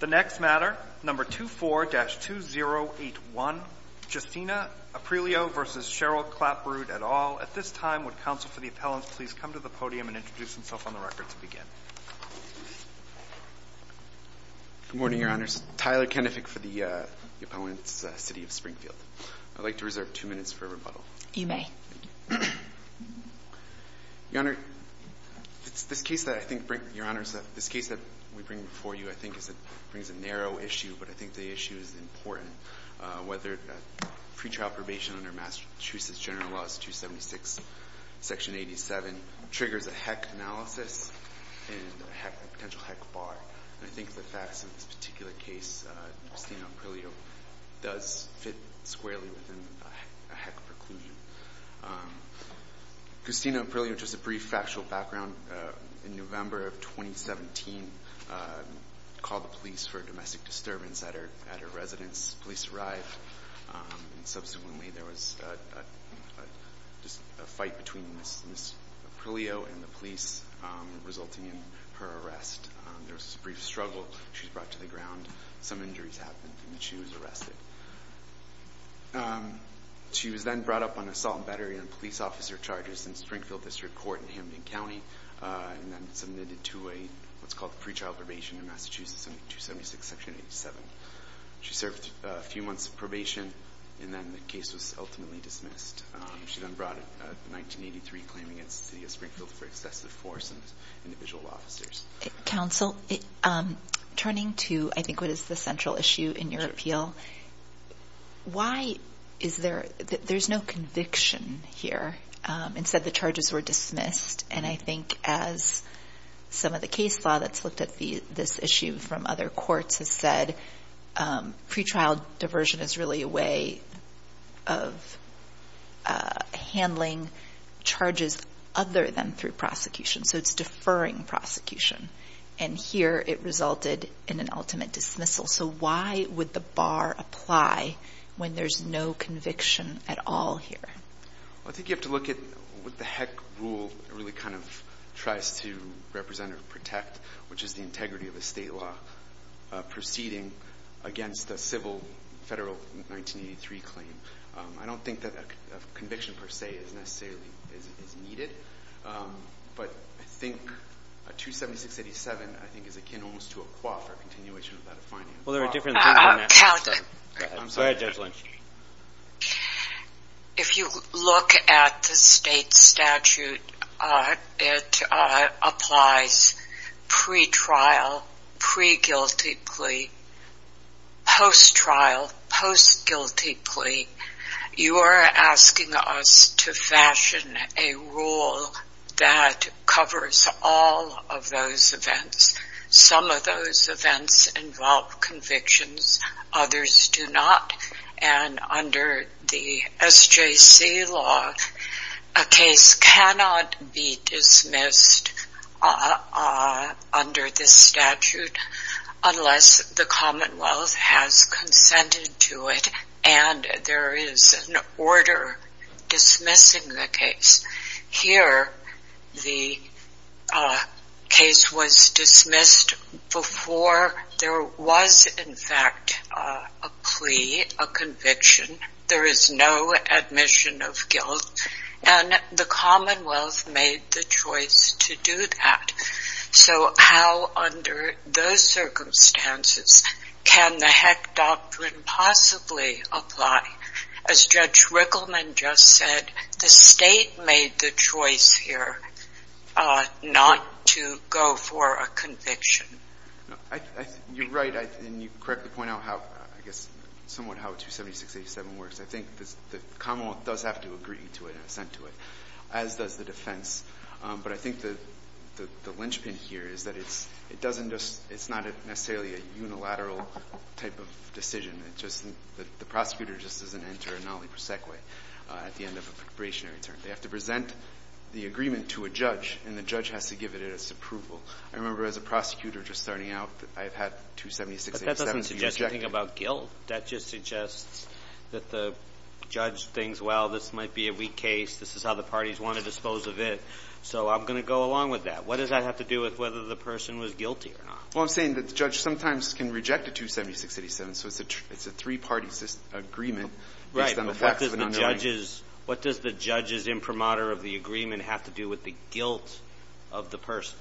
The next matter, number 24-2081, Justina Aprileo v. Cheryl Clapprood et al. At this time, would counsel for the appellant please come to the podium and introduce himself on the record to begin? Good morning, Your Honors. Tyler Kenefick for the appellant's city of Springfield. I'd like to reserve two minutes for rebuttal. You may. Your Honor, it's this case that I think bring, Your Honors, this case that we bring before you, I think, brings a narrow issue, but I think the issue is important. Whether pretrial probation under Massachusetts General Laws 276, Section 87, triggers a HEC analysis and a potential HEC bar. And I think the facts in this particular case, Justina Aprileo, does fit squarely within a HEC preclusion. Justina Aprileo, just a brief factual background. In November of 2017, called the police for a domestic disturbance at her residence. Police arrived, and subsequently there was a fight between Ms. Aprileo and the police, resulting in her arrest. There was a brief struggle. She was brought to the ground. Some injuries happened, and she was arrested. She was then brought up on assault and battery and police officer charges in Springfield District Court in Hamden County. And then submitted to what's called pre-trial probation in Massachusetts under 276, Section 87. She served a few months of probation, and then the case was ultimately dismissed. She then brought in 1983, claiming against the city of Springfield for excessive force and individual officers. Counsel, turning to, I think, what is the central issue in your appeal. Why is there, there's no conviction here. Instead, the charges were dismissed. And I think as some of the case law that's looked at this issue from other courts has said, pre-trial diversion is really a way of handling charges other than through prosecution. So it's deferring prosecution. And here, it resulted in an ultimate dismissal. So why would the bar apply when there's no conviction at all here? Well, I think you have to look at what the heck rule really kind of tries to represent or protect, which is the integrity of the state law proceeding against the civil federal 1983 claim. I don't think that conviction per se is necessarily is needed. But I think 276, 87, I think, is akin almost to a qua for continuation of that a fine. Well, there are different. Counsel, if you look at the state statute, it applies pre-trial, pre-guilty plea, post-trial, post-guilty plea. You are asking us to fashion a rule that covers all of those events. Some of those events involve convictions, others do not. And under the SJC law, a case cannot be dismissed under this statute unless the Commonwealth has consented to it and there is an order dismissing the case. Here, the case was dismissed before there was, in fact, a plea, a conviction. There is no admission of guilt and the Commonwealth made the choice to do that. So how under those circumstances can the heck doctrine possibly apply? As Judge Rickleman just said, the state made the choice here not to go for a conviction. You're right and you correctly point out how, I guess, somewhat how 276, 87 works. I think the Commonwealth does have to agree to it and assent to it, as does the defense. But I think the linchpin here is that it's not necessarily a unilateral type of decision. The prosecutor just doesn't enter a nolli proseque at the end of a preparationary term. They have to present the agreement to a judge and the judge has to give it its approval. I remember as a prosecutor just starting out, I've had 276, 87 be rejected. But that doesn't suggest anything about guilt. That just suggests that the judge thinks, well, this might be a weak case. This is how the parties want to dispose of it. So I'm going to go along with that. What does that have to do with whether the person was guilty or not? Well, I'm saying that the judge sometimes can reject a 276, 87. So it's a three-party agreement based on the facts of an unknowing. But what does the judge's imprimatur of the agreement have to do with the guilt of the person?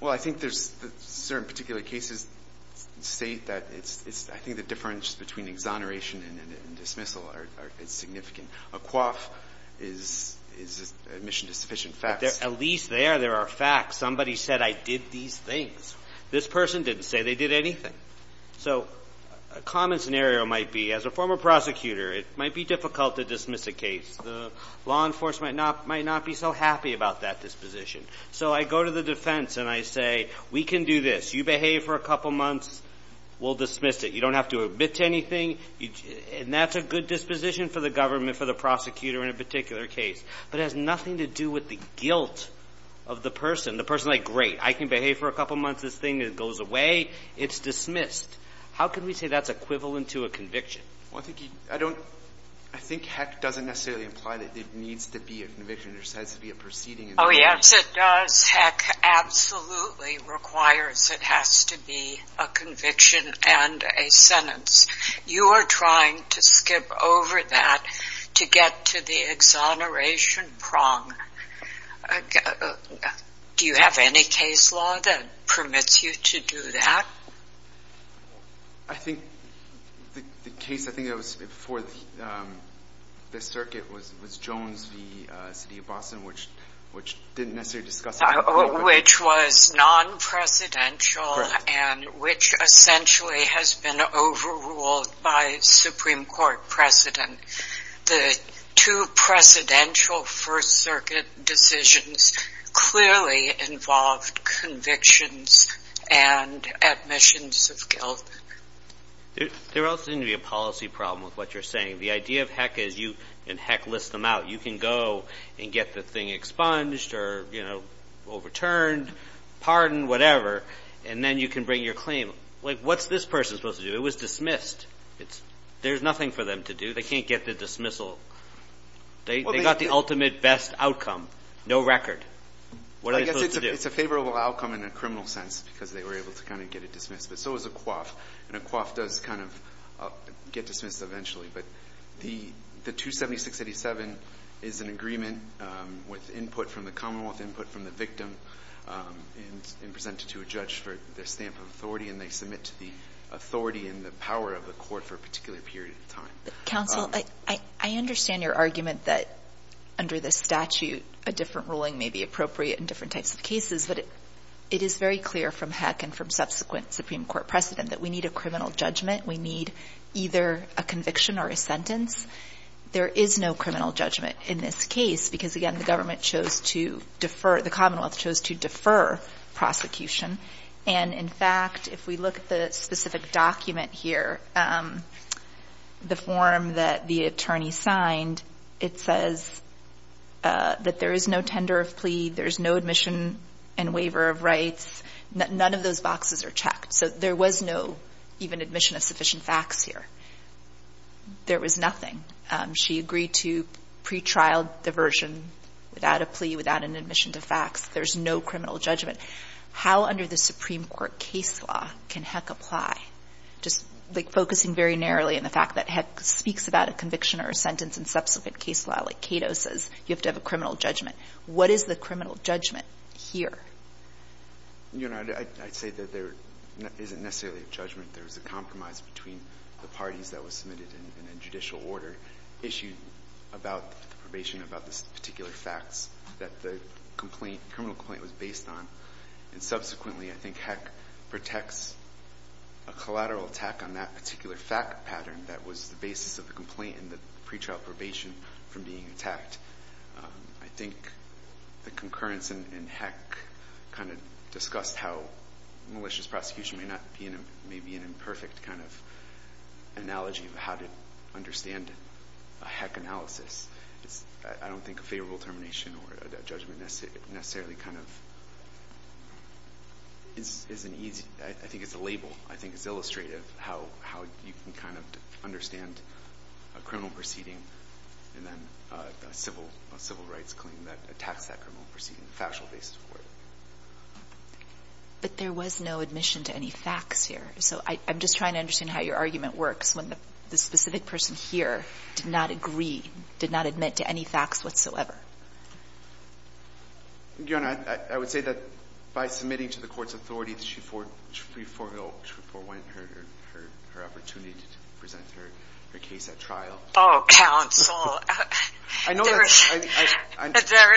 Well, I think there's certain particular cases that state that it's – I think the difference between exoneration and dismissal is significant. A coif is admission to sufficient facts. At least there, there are facts. Somebody said I did these things. This person didn't say they did anything. So a common scenario might be, as a former prosecutor, it might be difficult to dismiss a case. The law enforcement might not be so happy about that disposition. So I go to the defense and I say, we can do this. You behave for a couple months, we'll dismiss it. You don't have to admit to anything. And that's a good disposition for the government, for the prosecutor in a particular case. But it has nothing to do with the guilt of the person. The person's like, great, I can behave for a couple months. This thing goes away. It's dismissed. How can we say that's equivalent to a conviction? Well, I think you – I don't – I think heck doesn't necessarily imply that it needs to be a conviction. There has to be a proceeding. Oh, yes, it does. Heck, absolutely requires it has to be a conviction and a sentence. You are trying to skip over that to get to the exoneration prong. Do you have any case law that permits you to do that? I think the case, I think it was before the circuit was Jones v. City of Boston, which didn't necessarily discuss it. Which was non-presidential and which essentially has been overruled by Supreme Court precedent. The two precedential First Circuit decisions clearly involved convictions and admissions of guilt. There also needs to be a policy problem with what you're saying. The idea of heck is you – and heck lists them out. You can go and get the thing expunged or, you know, overturned, pardoned, whatever. And then you can bring your claim. Like, what's this person supposed to do? It was dismissed. There's nothing for them to do. They can't get the dismissal. They got the ultimate best outcome. No record. What are they supposed to do? It's a favorable outcome in a criminal sense because they were able to kind of get it dismissed. But so is a coif. And a coif does kind of get dismissed eventually. But the 276-87 is an agreement with input from the Commonwealth, input from the victim, and presented to a judge for their stamp of authority. And they submit to the authority and the power of the court for a particular period of time. Counsel, I understand your argument that under this statute, a different ruling may be appropriate in different types of cases. But it is very clear from heck and from subsequent Supreme Court precedent that we need a criminal judgment. We need either a conviction or a sentence. There is no criminal judgment in this case because, again, the government chose to defer – the Commonwealth chose to defer prosecution. And, in fact, if we look at the specific document here, the form that the attorney signed, it says that there is no tender of plea. There is no admission and waiver of rights. None of those boxes are checked. So there was no even admission of sufficient facts here. There was nothing. She agreed to pretrial diversion without a plea, without an admission to facts. There's no criminal judgment. How under the Supreme Court case law can heck apply? Just, like, focusing very narrowly on the fact that heck speaks about a conviction or a sentence in subsequent case law, like Cato says, you have to have a criminal judgment. What is the criminal judgment here? You know, I'd say that there isn't necessarily a judgment. There's a compromise between the parties that was submitted in a judicial order issued about the probation, about the particular facts that the complaint, the criminal complaint was based on. And subsequently, I think heck protects a collateral attack on that particular fact pattern that was the basis of the complaint and the pretrial probation from being attacked. I think the concurrence in heck kind of discussed how malicious prosecution may not be in a, may be an imperfect kind of analogy of how to understand a heck analysis. I don't think a favorable termination or a judgment necessarily kind of is an easy, I think it's a label, I think it's illustrative how you can kind of understand a criminal proceeding and then a civil rights claim that attacks that criminal proceeding, the factual basis for it. But there was no admission to any facts here. So I'm just trying to understand how your argument works. When the specific person here did not agree, did not admit to any facts whatsoever. Your Honor, I would say that by submitting to the court's authority that she forewent her opportunity to present her case at trial. Oh, counsel, there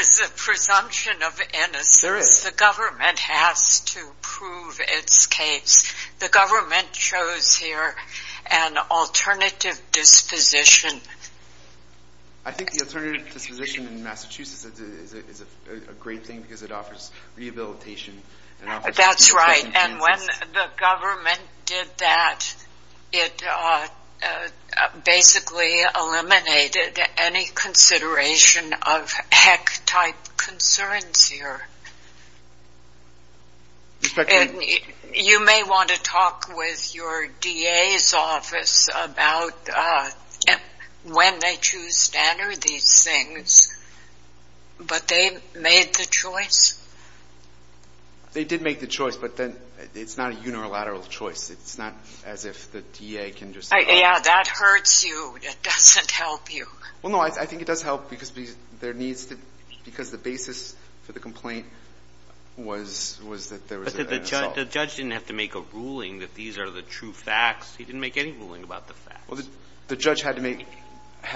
is a presumption of innocence. The government has to prove its case. The government chose here an alternative disposition. I think the alternative disposition in Massachusetts is a great thing because it offers rehabilitation. That's right, and when the government did that, it basically eliminated any consideration of heck type concerns here. You may want to talk with your DA's office about when they choose to enter these things, but they made the choice? They did make the choice, but then it's not a unilateral choice. It's not as if the DA can just... Yeah, that hurts you. It doesn't help you. Well, no, I think it does help because there needs to, because the basis for the complaint was that there was an assault. The judge didn't have to make a ruling that these are the true facts. He didn't make any ruling about the facts. Well, the judge had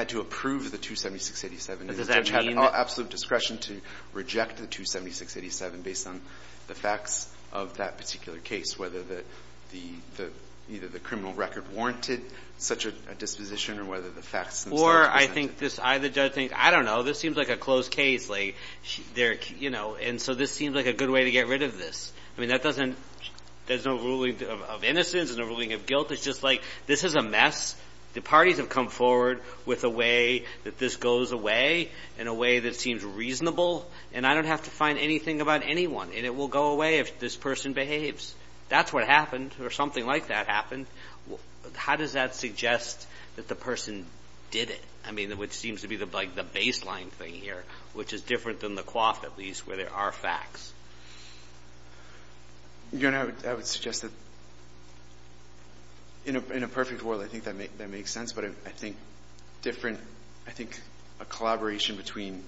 to approve the 276-87. Does that mean that... The judge had absolute discretion to reject the 276-87 based on the facts of that particular case, whether either the criminal record warranted such a disposition or whether the facts... Or I think the judge thinks, I don't know, this seems like a closed case. And so this seems like a good way to get rid of this. I mean, there's no ruling of innocence, no ruling of guilt. It's just like, this is a mess. The parties have come forward with a way that this goes away in a way that seems reasonable, and I don't have to find anything about anyone, and it will go away if this person behaves. That's what happened, or something like that happened. How does that suggest that the person did it? I mean, which seems to be the baseline thing here, which is different than the coif at least, where there are facts. Your Honor, I would suggest that in a perfect world, I think that makes sense. But I think different, I think a collaboration between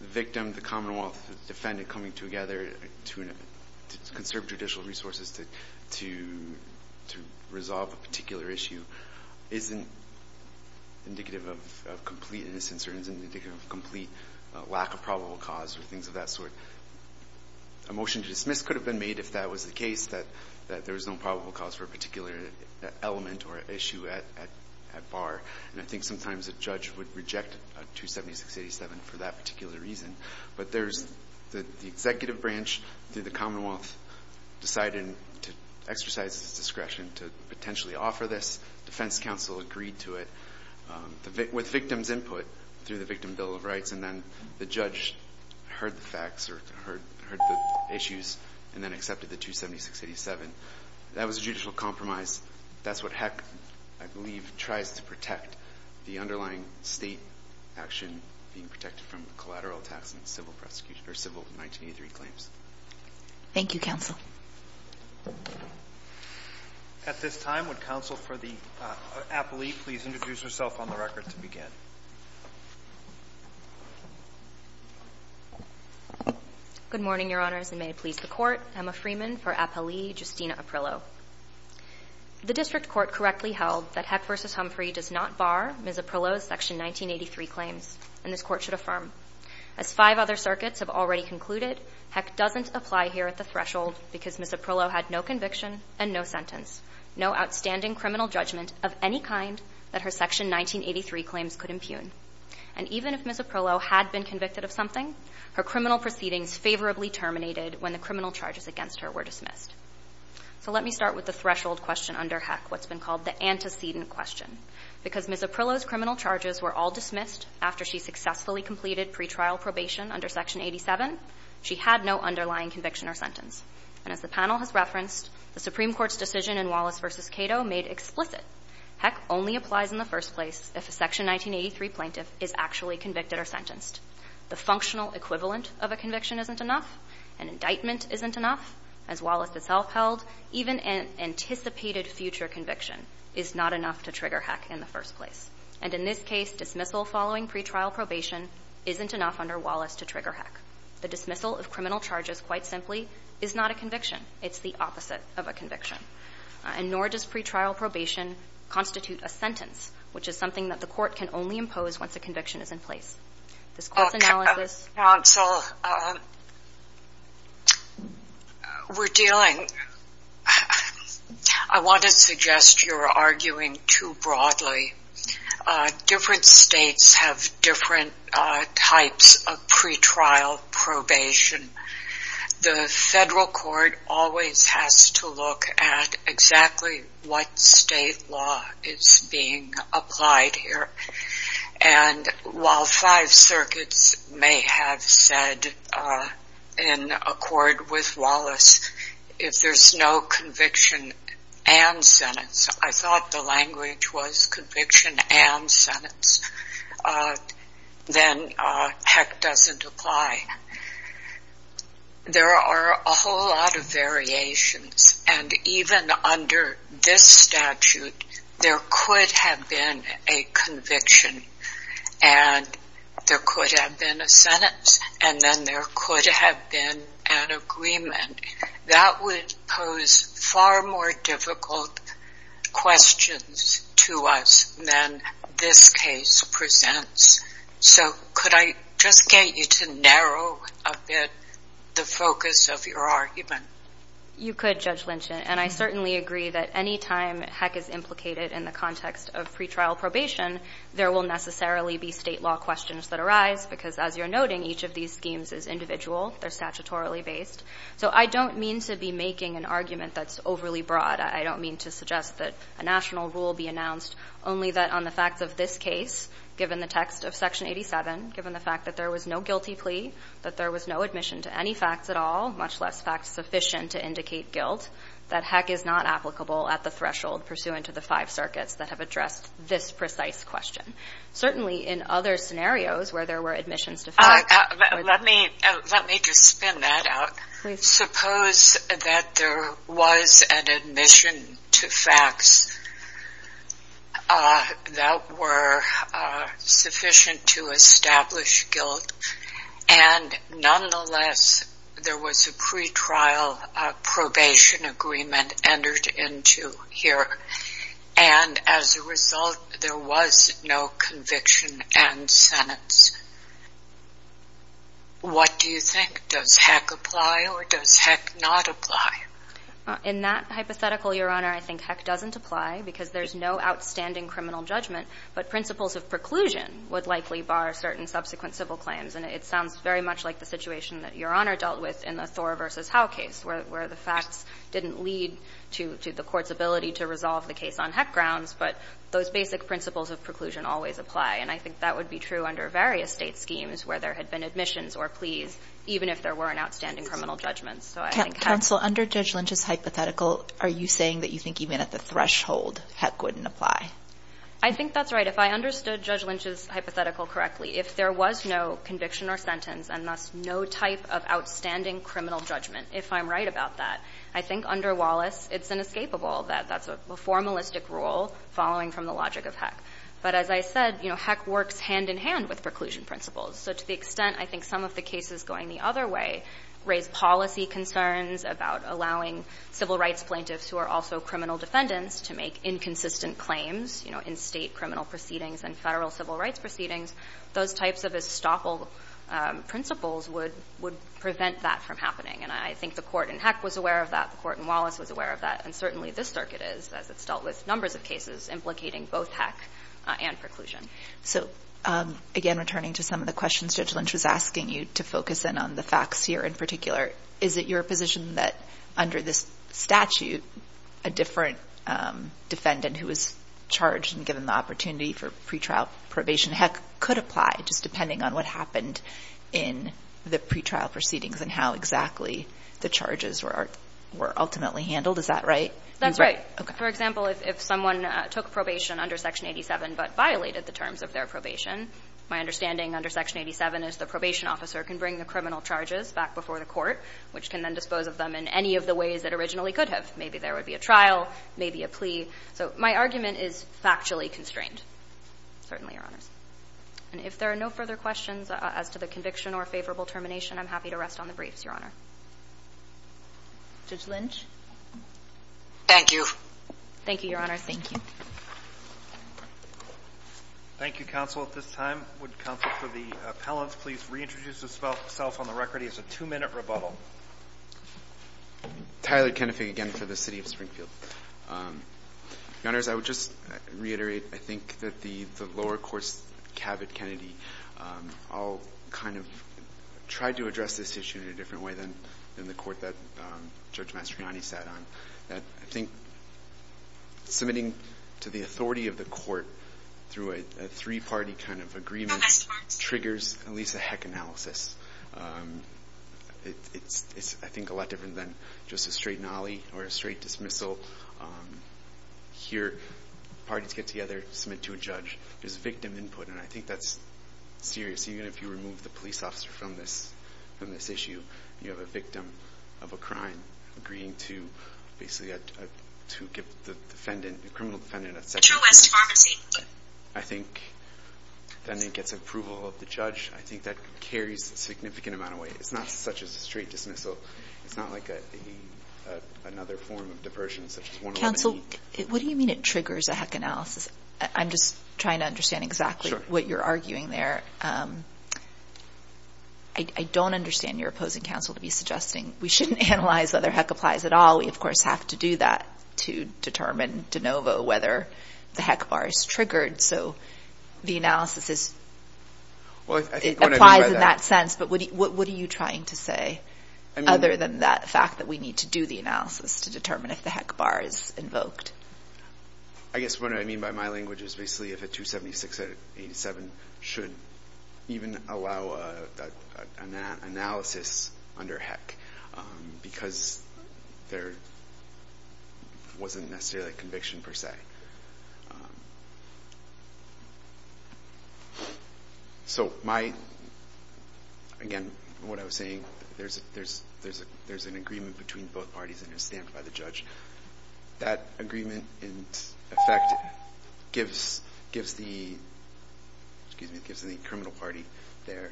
the victim, the Commonwealth, the defendant coming together to conserve judicial resources to resolve a particular issue isn't indicative of complete innocence or isn't indicative of complete lack of probable cause or things of that sort. A motion to dismiss could have been made if that was the case, that there was no probable cause for a particular element or issue at bar. And I think sometimes a judge would reject 276-87 for that particular reason. But there's the executive branch through the Commonwealth deciding to exercise its discretion to potentially offer this, defense counsel agreed to it with victim's input through the Victim Bill of Rights. And then the judge heard the facts or heard the issues and then accepted the 276-87. That was a judicial compromise. That's what HEC, I believe, tries to protect, the underlying state action being protected from collateral tax and civil prosecution or civil 1983 claims. Thank you, counsel. At this time, would counsel for the appellee please introduce herself on the record to begin? Good morning, your honors, and may it please the court. Emma Freeman for appellee Justina Aprillo. The district court correctly held that HEC versus Humphrey does not bar Ms. Aprillo's section 1983 claims, and this court should affirm. As five other circuits have already concluded, HEC doesn't apply here at the threshold because Ms. Aprillo had no conviction and no sentence, no outstanding criminal judgment of any kind that her section 1983 claims could impugn. And even if Ms. Aprillo had been convicted of something, her criminal proceedings favorably terminated when the criminal charges against her were dismissed. So let me start with the threshold question under HEC, what's been called the antecedent question. Because Ms. Aprillo's criminal charges were all dismissed after she successfully completed pretrial probation under section 87, she had no underlying conviction or sentence. And as the panel has referenced, the Supreme Court's decision in Wallace versus Cato made explicit. HEC only applies in the first place if a section 1983 plaintiff is actually convicted or sentenced. The functional equivalent of a conviction isn't enough, an indictment isn't enough, as Wallace itself held, even an anticipated future conviction is not enough to trigger HEC in the first place. And in this case, dismissal following pretrial probation isn't enough under Wallace to trigger HEC. The dismissal of criminal charges, quite simply, is not a conviction. It's the opposite of a conviction. And nor does pretrial probation constitute a sentence, which is something that the court can only impose once a conviction is in place. This court's analysis- Counsel, we're dealing, I want to suggest you're arguing too broadly. Different states have different types of pretrial probation. The federal court always has to look at exactly what state law is being applied here. And while five circuits may have said in accord with Wallace, if there's no conviction and sentence, I thought the language was conviction and sentence, then HEC doesn't apply. There are a whole lot of variations. And even under this statute, there could have been a conviction, and there could have been a sentence, and then there could have been an agreement. That would pose far more difficult questions to us than this case presents. So could I just get you to narrow a bit the focus of your argument? You could, Judge Lynch. And I certainly agree that any time HEC is implicated in the context of pretrial probation, there will necessarily be state law questions that arise, because as you're noting, each of these schemes is individual. They're statutorily based. So I don't mean to be making an argument that's overly broad. I don't mean to suggest that a national rule be announced, only that on the facts of this case, given the text of Section 87, given the fact that there was no guilty plea, that there was no admission to any facts at all, much less facts sufficient to indicate guilt, that HEC is not applicable at the threshold pursuant to the five circuits that have addressed this precise question. Certainly, in other scenarios where there were admissions to facts or the... Let me just spin that out. Suppose that there was an admission to facts that were sufficient to establish guilt, and nonetheless, there was a pretrial probation agreement entered into here, and as a result, there was no conviction and sentence. What do you think? Does HEC apply or does HEC not apply? In that hypothetical, Your Honor, I think HEC doesn't apply, because there's no outstanding criminal judgment, but principles of preclusion would likely bar certain subsequent civil claims. And it sounds very much like the situation that Your Honor dealt with in the Thor v. Howe case, where the facts didn't lead to the court's ability to resolve the case on HEC grounds, but those basic principles of preclusion always apply. And I think that would be true under various state schemes where there had been admissions or pleas, even if there were an outstanding criminal judgment. So I think HEC... Counsel, under Judge Lynch's hypothetical, are you saying that you think even at the threshold, HEC wouldn't apply? I think that's right. If I understood Judge Lynch's hypothetical correctly, if there was no conviction or sentence and thus no type of outstanding criminal judgment, if I'm right about that, I think under Wallace, it's inescapable that that's a formalistic rule following from the logic of HEC. But as I said, HEC works hand in hand with preclusion principles. So to the extent I think some of the cases going the other way raise policy concerns about allowing civil rights plaintiffs who are also criminal defendants to make inconsistent claims, you know, in State criminal proceedings and Federal civil rights proceedings, those types of estoppel principles would prevent that from happening. And I think the Court in HEC was aware of that. The Court in Wallace was aware of that. And certainly this Circuit is, as it's dealt with numbers of cases, implicating both HEC and preclusion. So again, returning to some of the questions Judge Lynch was asking you to focus in on the facts here in particular, is it your position that under this statute, a different defendant who was charged and given the opportunity for pretrial probation HEC could apply just depending on what happened in the pretrial proceedings and how exactly the charges were ultimately handled? Is that right? That's right. Okay. For example, if someone took probation under Section 87, but violated the terms of their probation, my understanding under Section 87 is the probation officer can bring the criminal charges back before the Court, which can then dispose of them in any of the ways that originally could have. Maybe there would be a trial, maybe a plea. So my argument is factually constrained, certainly, Your Honors. And if there are no further questions as to the conviction or favorable termination, I'm happy to rest on the briefs, Your Honor. Judge Lynch? Thank you. Thank you, Your Honor. Thank you. Thank you, counsel. At this time, would counsel for the appellant please reintroduce himself on the record? It is a two-minute rebuttal. Tyler Kennedy, again, for the City of Springfield. Your Honors, I would just reiterate, I think, that the lower courts, Cabot, Kennedy, all kind of tried to address this issue in a different way than the court that Judge Mastriani sat on. I think submitting to the authority of the court through a three-party kind of agreement triggers at least a heck analysis. It's, I think, a lot different than just a straight nolly or a straight dismissal. Here, parties get together, submit to a judge. There's victim input, and I think that's serious. Even if you remove the police officer from this issue, you have a victim of a crime agreeing to basically to give the defendant, the criminal defendant, a section. Metro West Pharmacy. I think then it gets approval of the judge. I think that carries a significant amount of weight. It's not such as a straight dismissal. It's not like another form of diversion such as one-on-one. Counsel, what do you mean it triggers a heck analysis? I'm just trying to understand exactly what you're arguing there. I don't understand your opposing counsel to be suggesting we shouldn't analyze whether heck applies at all. We, of course, have to do that to determine de novo whether the heck bar is triggered. So the analysis is, it applies in that sense, but what are you trying to say other than that fact that we need to do the analysis to determine if the heck bar is invoked? I guess what I mean by my language is basically if a 276-87 should even allow an analysis under heck because there wasn't necessarily a conviction per se. So my, again, what I was saying, there's an agreement between both parties and it's stamped by the judge. That agreement in effect gives the, excuse me, gives the criminal party their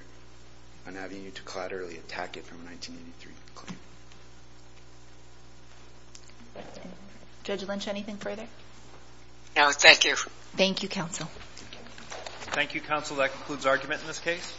avenue to collaterally attack it from a 1983 claim. Judge Lynch, anything further? No, thank you. Thank you, counsel. Thank you, counsel. That concludes argument in this case.